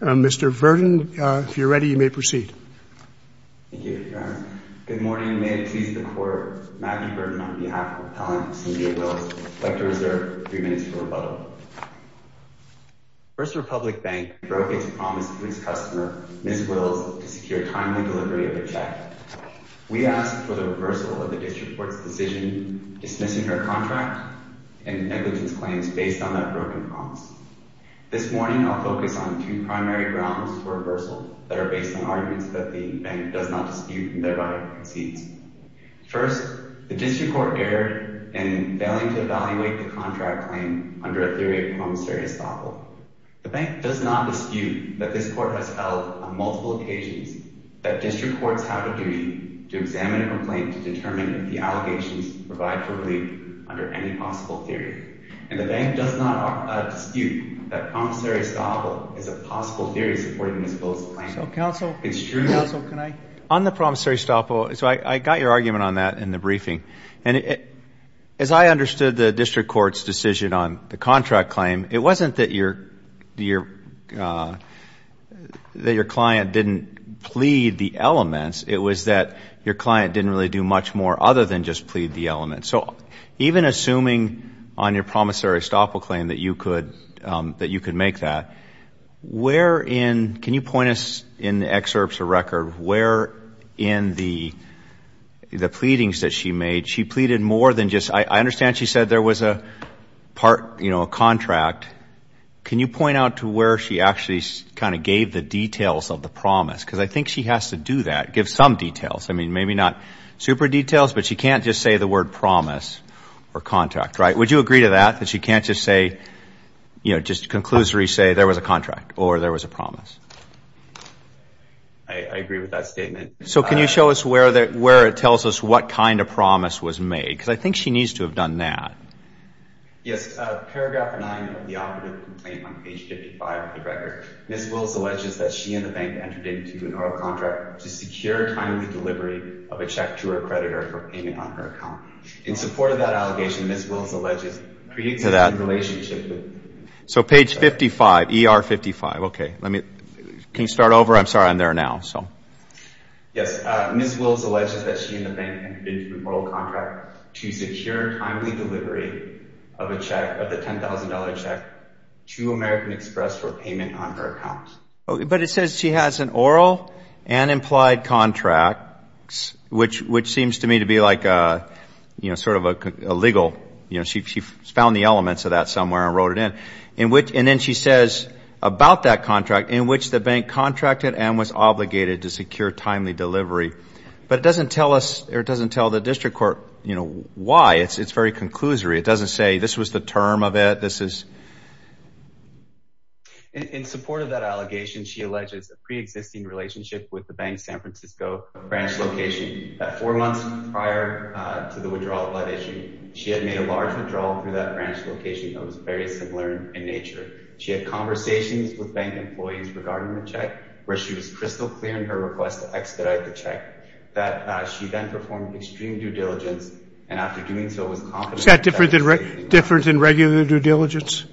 Mr. Verdin, if you're ready, you may proceed. Thank you, Your Honor. Good morning, and may it please the Court, Matthew Verdin on behalf of Appellant Cynthia Wills would like to reserve three minutes for rebuttal. First Republic Bank broke its promise to its customer, Ms. Wills, to secure timely delivery of a check. We ask for the reversal of the District Court's decision dismissing her contract and negligence claims based on that broken promise. This morning, I'll focus on two primary grounds for reversal that are based on arguments that the Bank does not dispute and thereby concedes. First, the District Court erred in failing to evaluate the contract claim under a theory of promissory estoppel. The Bank does not dispute that this Court has held on multiple occasions that District Courts have a duty to examine a complaint to determine if the allegations provide for relief under any possible theory. And the Bank does not dispute that promissory estoppel is a possible theory supporting Ms. Wills' claim. It's true. On the promissory estoppel, I got your argument on that in the briefing, and as I understood the District Court's decision on the contract claim, it wasn't that your client didn't plead the elements. It was that your client didn't really do much more other than just plead the elements. So even assuming on your promissory estoppel claim that you could make that, where in, can you point us in the excerpts of the record, where in the pleadings that she made, she pleaded more than just, I understand she said there was a part, you know, a contract. Can you point out to where she actually kind of gave the details of the promise? Because I think she has to do that, give some details. I mean, maybe not super details, but she can't just say the word promise or contract, right? Would you agree to that, that she can't just say, you know, just conclusory say there was a contract or there was a promise? I agree with that statement. So can you show us where it tells us what kind of promise was made? Because I think she needs to have done that. Yes. Paragraph 9 of the operative complaint on page 55 of the record, Ms. Wills alleges that she and the bank entered into an oral contract to secure timely delivery of a check to her creditor for payment on her account. In support of that allegation, Ms. Wills alleges, creates a relationship with the creditor. So page 55, ER 55, okay. Can you start over? I'm sorry, I'm there now. Yes. Ms. Wills alleges that she and the bank entered into an oral contract to secure timely delivery of a check, of the $10,000 check, to American Express for payment on her account. But it says she has an oral and implied contract, which seems to me to be like sort of illegal. She found the elements of that somewhere and wrote it in. And then she says about that contract, in which the bank contracted and was obligated to secure timely delivery. But it doesn't tell us or it doesn't tell the district court why. It's very conclusory. It doesn't say this was the term of it, this is. In support of that allegation, she alleges a preexisting relationship with the bank, San Francisco. Branch location. At four months prior to the withdrawal allegation, she had made a large withdrawal through that branch location that was very similar in nature. She had conversations with bank employees regarding the check, where she was crystal clear in her request to expedite the check, that she then performed extreme due diligence, and after doing so was confident. Is that different than regular due diligence?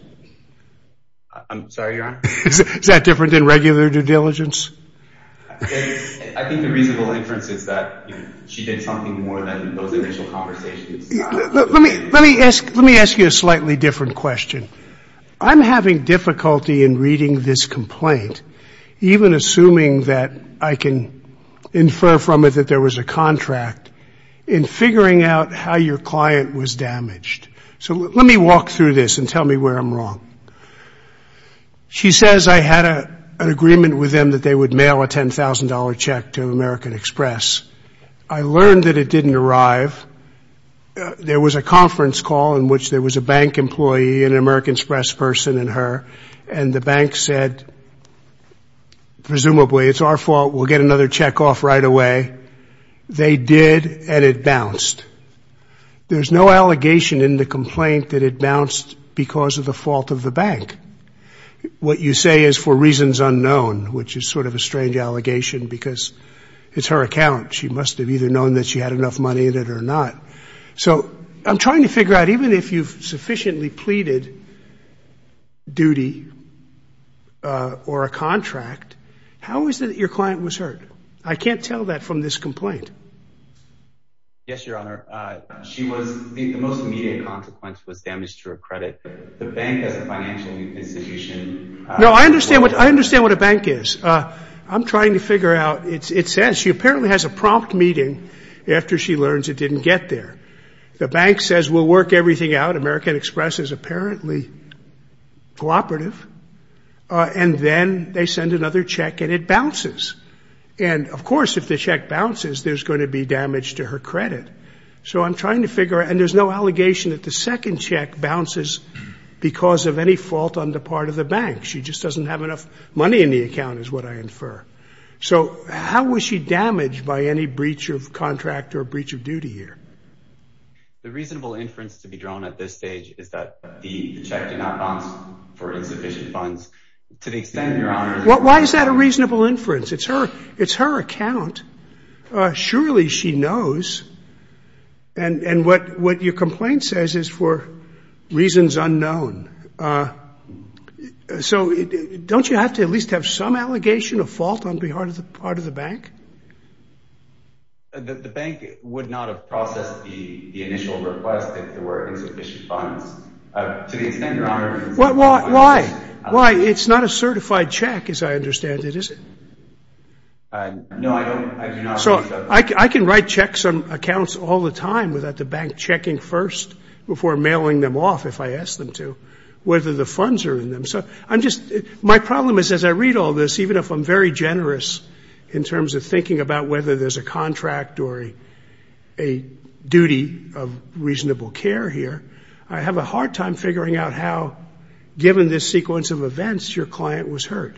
I'm sorry, Your Honor? Is that different than regular due diligence? I think the reasonable inference is that she did something more than those initial conversations. Let me ask you a slightly different question. I'm having difficulty in reading this complaint, even assuming that I can infer from it that there was a contract, in figuring out how your client was damaged. So let me walk through this and tell me where I'm wrong. She says, I had an agreement with them that they would mail a $10,000 check to American Express. I learned that it didn't arrive. There was a conference call in which there was a bank employee, an American Express person, and her, and the bank said, presumably, it's our fault, we'll get another check off right away. They did, and it bounced. There's no allegation in the complaint that it bounced because of the fault of the bank. What you say is for reasons unknown, which is sort of a strange allegation, because it's her account. She must have either known that she had enough money in it or not. So I'm trying to figure out, even if you've sufficiently pleaded duty or a contract, how is it that your client was hurt? I can't tell that from this complaint. Yes, Your Honor. She was, the most immediate consequence was damage to her credit. The bank as a financial institution. No, I understand what a bank is. I'm trying to figure out. It says she apparently has a prompt meeting after she learns it didn't get there. The bank says, we'll work everything out. American Express is apparently cooperative. And then they send another check, and it bounces. And, of course, if the check bounces, there's going to be damage to her credit. So I'm trying to figure out. And there's no allegation that the second check bounces because of any fault on the part of the bank. She just doesn't have enough money in the account is what I infer. So how was she damaged by any breach of contract or breach of duty here? The reasonable inference to be drawn at this stage is that the check did not bounce for insufficient funds. To the extent, Your Honor. Why is that a reasonable inference? It's her account. Surely she knows. And what your complaint says is for reasons unknown. So don't you have to at least have some allegation of fault on the part of the bank? The bank would not have processed the initial request if there were insufficient funds. To the extent, Your Honor. Why? Why? It's not a certified check, as I understand it, is it? No, I do not believe so. So I can write checks on accounts all the time without the bank checking first before mailing them off if I ask them to, whether the funds are in them. So my problem is as I read all this, even if I'm very generous in terms of thinking about whether there's a contract or a duty of reasonable care here, I have a hard time figuring out how, given this sequence of events, your client was hurt.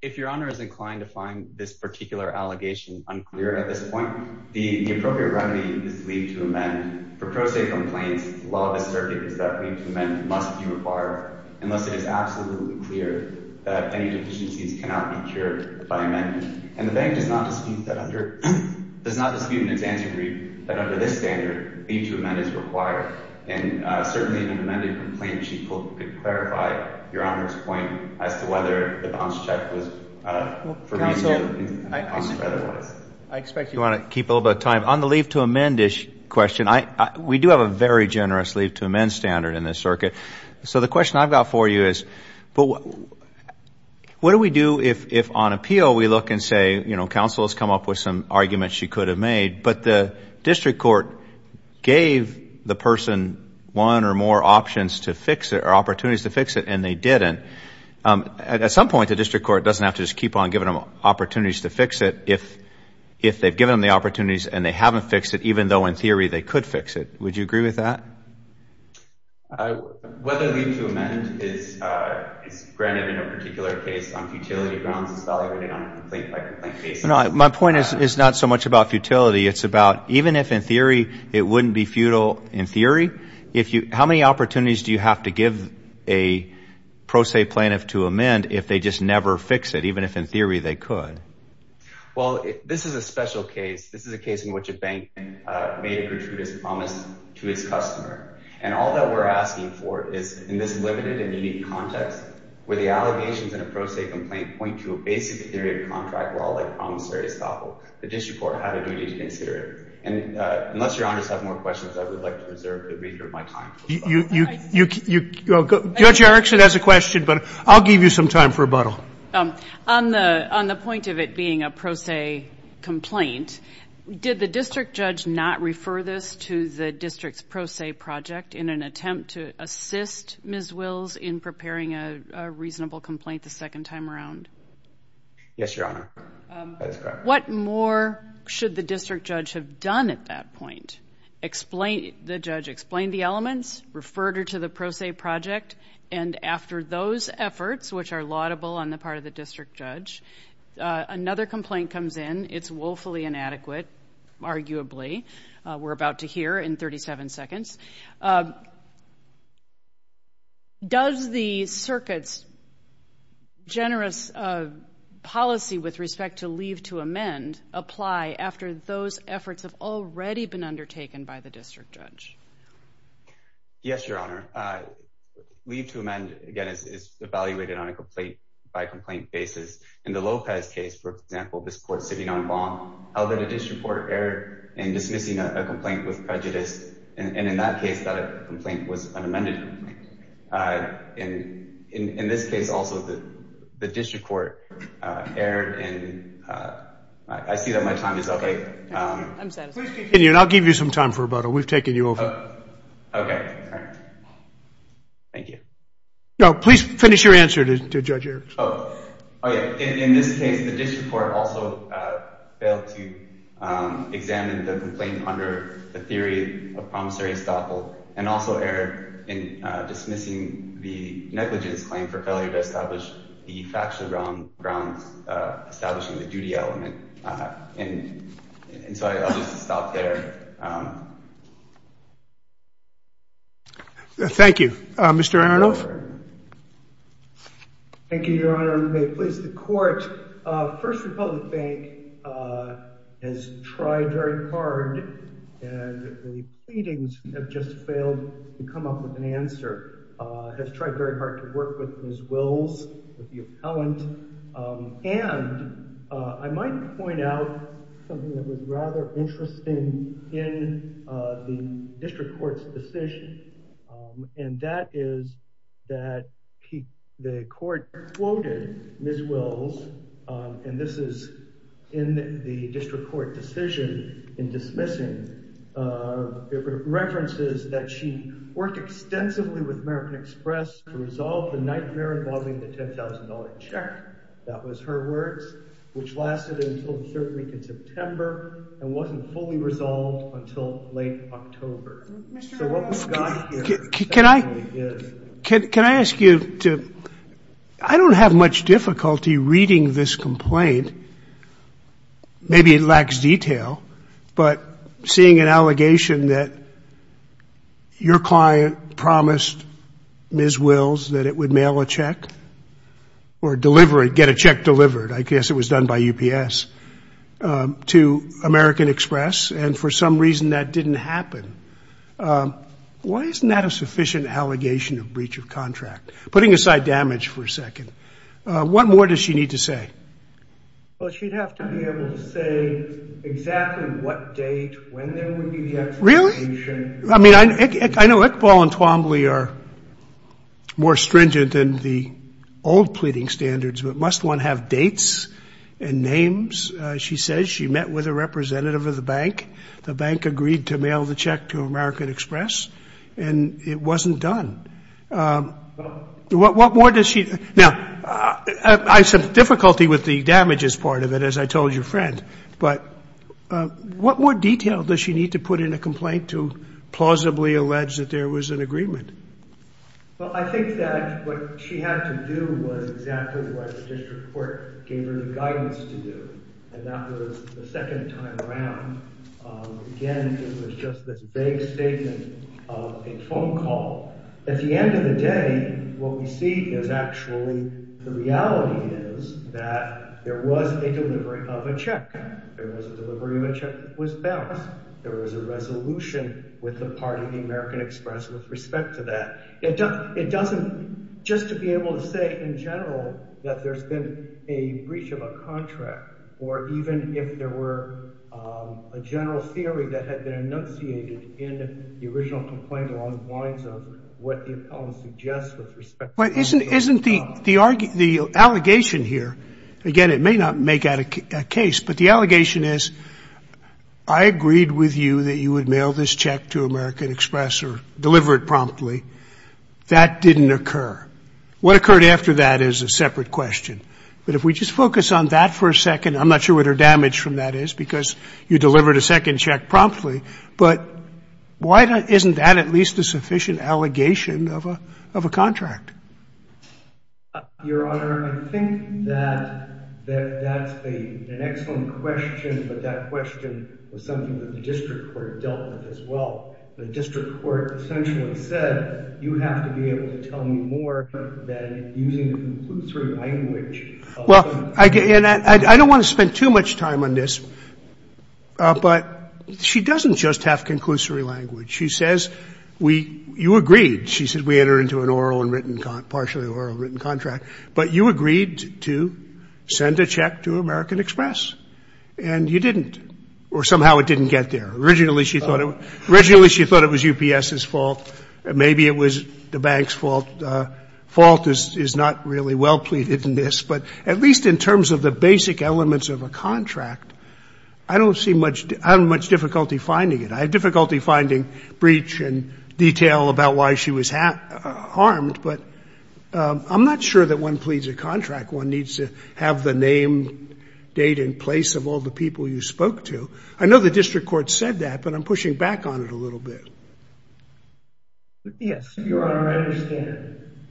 If Your Honor is inclined to find this particular allegation unclear at this point, the appropriate remedy is leave to amend. For pro se complaints, the law of the circuit is that leave to amend must be required unless it is absolutely clear that any deficiencies cannot be cured by amendment. And the bank does not dispute that under this standard, leave to amend is required. And certainly in an amended complaint, she could clarify Your Honor's point as to whether the bonds check was for reasonable reasons. Counsel, I expect you want to keep a little bit of time. On the leave to amend question, we do have a very generous leave to amend standard in this circuit. So the question I've got for you is what do we do if on appeal we look and say, you know, counsel has come up with some arguments she could have made, but the district court gave the person one or more options to fix it or opportunities to fix it and they didn't. At some point, the district court doesn't have to just keep on giving them opportunities to fix it if they've given them the opportunities and they haven't fixed it, even though in theory they could fix it. Would you agree with that? Whether leave to amend is granted in a particular case on futility grounds is evaluated on a complete complaint basis. My point is not so much about futility. It's about even if in theory it wouldn't be futile in theory, how many opportunities do you have to give a pro se plaintiff to amend if they just never fix it, even if in theory they could? Well, this is a special case. This is a case in which a bank made a gratuitous promise to its customer, and all that we're asking for is in this limited and unique context, where the allegations in a pro se complaint point to a basic theory of contract law like promissory estoppel, the district court had a duty to consider it. And unless your honors have more questions, I would like to reserve the remainder of my time. Judge Erickson has a question, but I'll give you some time for rebuttal. On the point of it being a pro se complaint, did the district judge not refer this to the district's pro se project in an attempt to assist Ms. Wills in preparing a reasonable complaint the second time around? Yes, your honor. What more should the district judge have done at that point? The judge explained the elements, referred her to the pro se project, and after those efforts, which are laudable on the part of the district judge, another complaint comes in. It's woefully inadequate, arguably. We're about to hear in 37 seconds. Does the circuit's generous policy with respect to leave to amend apply after those efforts have already been undertaken by the district judge? Yes, your honor. Leave to amend, again, is evaluated on a complaint-by-complaint basis. In the Lopez case, for example, this court sitting on bond, held that a district court erred in dismissing a complaint with prejudice, and in that case, that complaint was unamended. In this case, also, the district court erred, and I see that my time is up. Please continue, and I'll give you some time for rebuttal. We've taken you over. Okay. Thank you. No, please finish your answer to Judge Erickson. In this case, the district court also failed to examine the complaint under the theory of promissory estoppel and also erred in dismissing the negligence claim for failure to establish the factually wrong grounds for establishing the duty element. And so I'll just stop there. Thank you. Mr. Aronoff? Thank you, your honor. Please, the court. First Republic Bank has tried very hard, and the pleadings have just failed to come up with an answer, has tried very hard to work with Ms. Wills, the appellant, and I might point out something that was rather interesting in the district court's decision, and that is that the court quoted Ms. Wills, and this is in the district court decision in dismissing, references that she worked extensively with American Express to resolve the nightmare involving the $10,000 check. That was her words, which lasted until the third week in September and wasn't fully resolved until late October. So what we've got here effectively is. Can I ask you to, I don't have much difficulty reading this complaint. Maybe it lacks detail, but seeing an allegation that your client promised Ms. Wills that it would mail a check or deliver it, get a check delivered, I guess it was done by UPS, to American Express, and for some reason that didn't happen, why isn't that a sufficient allegation of breach of contract? Putting aside damage for a second, what more does she need to say? Well, she'd have to be able to say exactly what date, when there would be the execution. Really? I mean, I know Iqbal and Twombly are more stringent than the old pleading standards, but must one have dates and names? She says she met with a representative of the bank. The bank agreed to mail the check to American Express, and it wasn't done. Now, I have some difficulty with the damages part of it, as I told your friend, but what more detail does she need to put in a complaint to plausibly allege that there was an agreement? Well, I think that what she had to do was exactly what the district court gave her the guidance to do, and that was the second time around. Again, it was just this vague statement of a phone call. At the end of the day, what we see is actually the reality is that there was a delivery of a check. There was a delivery of a check that was balanced. There was a resolution with the part of the American Express with respect to that. It doesn't, just to be able to say in general that there's been a breach of a contract, or even if there were a general theory that had been enunciated in the original complaint along the lines of what the appellant suggests with respect to the phone call. Isn't the allegation here, again, it may not make a case, but the allegation is I agreed with you that you would mail this check to American Express or deliver it promptly. That didn't occur. What occurred after that is a separate question, but if we just focus on that for a second, I'm not sure what her damage from that is because you delivered a second check promptly, but why isn't that at least a sufficient allegation of a contract? Your Honor, I think that that's an excellent question, but that question was something that the district court dealt with as well. The district court essentially said you have to be able to tell me more than using the conclusory language. Well, I don't want to spend too much time on this, but she doesn't just have conclusory language. She says you agreed. She said we entered into an oral and written, partially oral and written contract, but you agreed to send a check to American Express, and you didn't, or somehow it didn't get there. Originally, she thought it was UPS's fault. Maybe it was the bank's fault. Fault is not really well pleaded in this, but at least in terms of the basic elements of a contract, I don't see much difficulty finding it. I have difficulty finding breach and detail about why she was harmed, but I'm not sure that one pleads a contract. One needs to have the name, date, and place of all the people you spoke to. I know the district court said that, but I'm pushing back on it a little bit. Yes. Your Honor, I understand,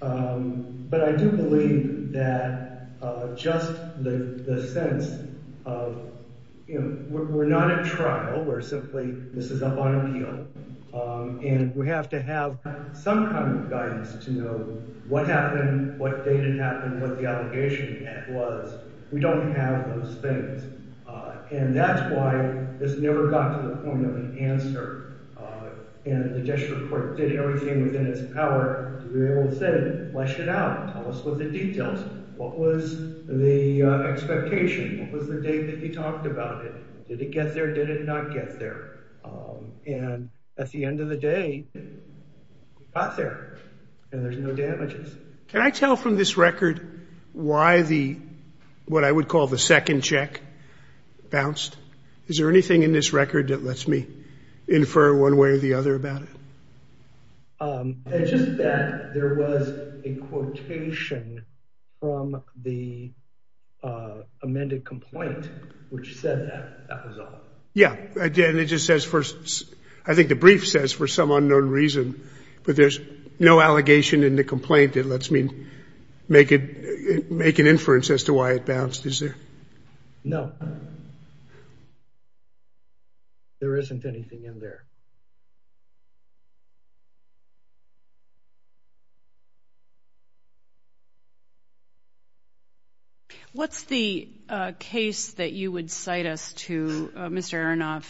but I do believe that just the sense of, you know, we're not at trial. We're simply, this is up on appeal, and we have to have some kind of guidance to know what happened, what date it happened, what the allegation was. We don't have those things, and that's why this never got to the point of an answer, and the district court did everything within its power to be able to say flesh it out, tell us what the details, what was the expectation, what was the date that he talked about it. Did it get there? Did it not get there? And at the end of the day, it got there, and there's no damages. Can I tell from this record why the, what I would call the second check bounced? Is there anything in this record that lets me infer one way or the other about it? Just that there was a quotation from the amended complaint which said that, that was all. Yeah, and it just says for, I think the brief says for some unknown reason, but there's no allegation in the complaint that lets me make an inference as to why it bounced, is there? No. There isn't anything in there. What's the case that you would cite us to, Mr. Aronoff,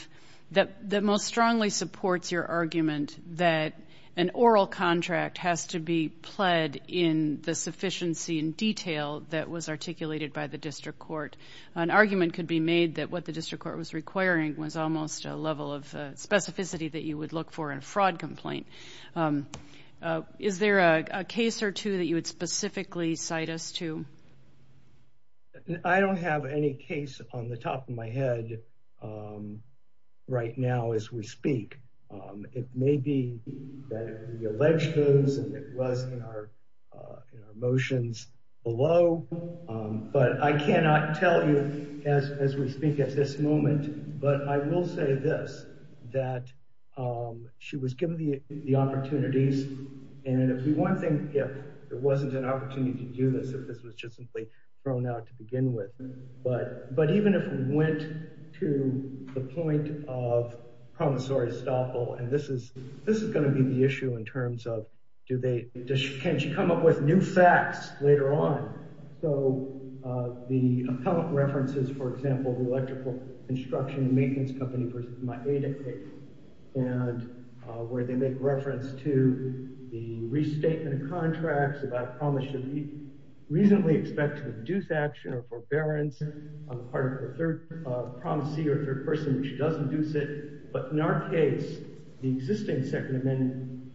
that most strongly supports your argument that an oral contract has to be pled in the sufficiency and detail that was articulated by the district court? An argument could be made that what the district court was requiring was almost a level of specificity that you would look for in a fraud complaint. Is there a case or two that you would specifically cite us to? I don't have any case on the top of my head right now as we speak. It may be that we allege those and it was in our motions below, but I cannot tell you as we speak at this moment. But I will say this, that she was given the opportunities, and if we want to think if there wasn't an opportunity to do this, if this was just simply thrown out to begin with, but even if we went to the point of promissory estoppel, and this is going to be the issue in terms of can she come up with new facts later on? So the appellant references, for example, the electrical construction and maintenance company versus my aid intake, and where they make reference to the restatement of contracts about a promise that we reasonably expect to induce action or forbearance on the part of the third promissory or third person which does induce it. But in our case, the existing second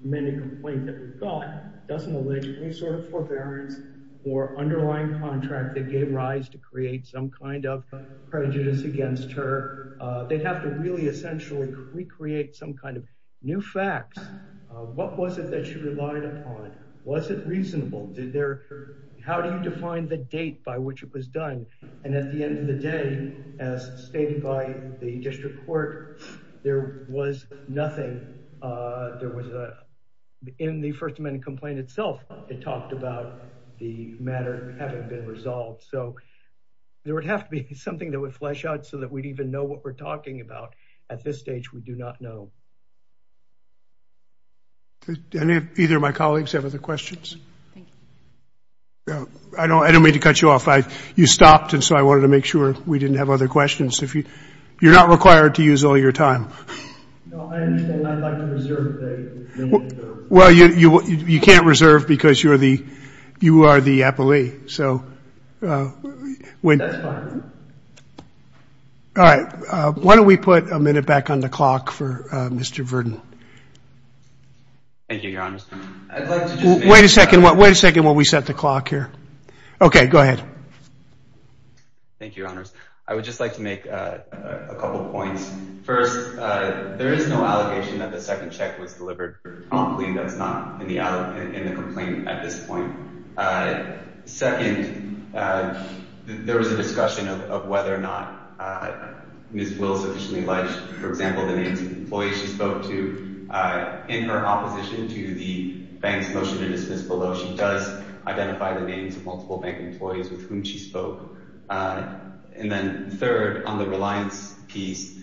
amendment complaint that we've got doesn't allege any sort of forbearance or underlying contract that gave rise to create some kind of prejudice against her. They have to really essentially recreate some kind of new facts. What was it that she relied upon? Was it reasonable? How do you define the date by which it was done? And at the end of the day, as stated by the district court, there was nothing. In the first amendment complaint itself, it talked about the matter having been resolved. So there would have to be something that would flesh out so that we'd even know what we're talking about. At this stage, we do not know. Did either of my colleagues have other questions? Thank you. I don't mean to cut you off. You stopped, and so I wanted to make sure we didn't have other questions. You're not required to use all your time. No, I understand. I'd like to reserve the minute. Well, you can't reserve because you are the appellee. So when – That's fine. All right. Why don't we put a minute back on the clock for Mr. Verdin? Thank you, Your Honors. I'd like to just make – Wait a second. Wait a second while we set the clock here. Okay. Go ahead. Thank you, Your Honors. I would just like to make a couple points. First, there is no allegation that the second check was delivered for a complaint that's not in the complaint at this point. Second, there was a discussion of whether or not Ms. Wills officially alleged, for example, the names of the employees she spoke to. In her opposition to the bank's motion to dismiss below, she does identify the names of multiple bank employees with whom she spoke. And then third, on the reliance piece,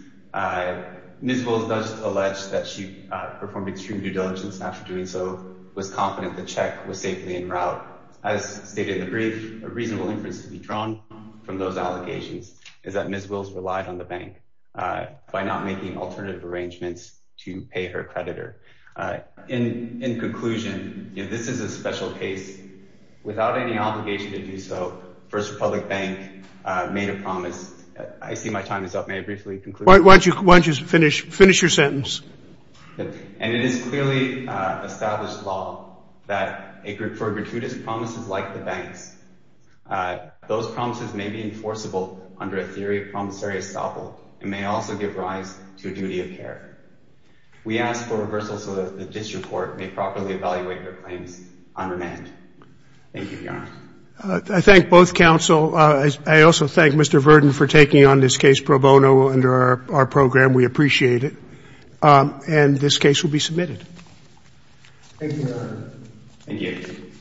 Ms. Wills does allege that she performed extreme due diligence and after doing so was confident the check was safely en route. As stated in the brief, a reasonable inference to be drawn from those allegations is that Ms. Wills relied on the bank by not making alternative arrangements to pay her creditor. In conclusion, this is a special case. Without any obligation to do so, First Republic Bank made a promise. I see my time is up. May I briefly conclude? Why don't you finish your sentence? And it is clearly established law that for gratuitous promises like the bank's, those promises may be enforceable under a theory of promissory estoppel and may also give rise to a duty of care. We ask for reversal so that the district court may properly evaluate their claims on remand. Thank you, Your Honor. I thank both counsel. I also thank Mr. Verdin for taking on this case pro bono under our program. We appreciate it. And this case will be submitted. Thank you, Your Honor. Thank you.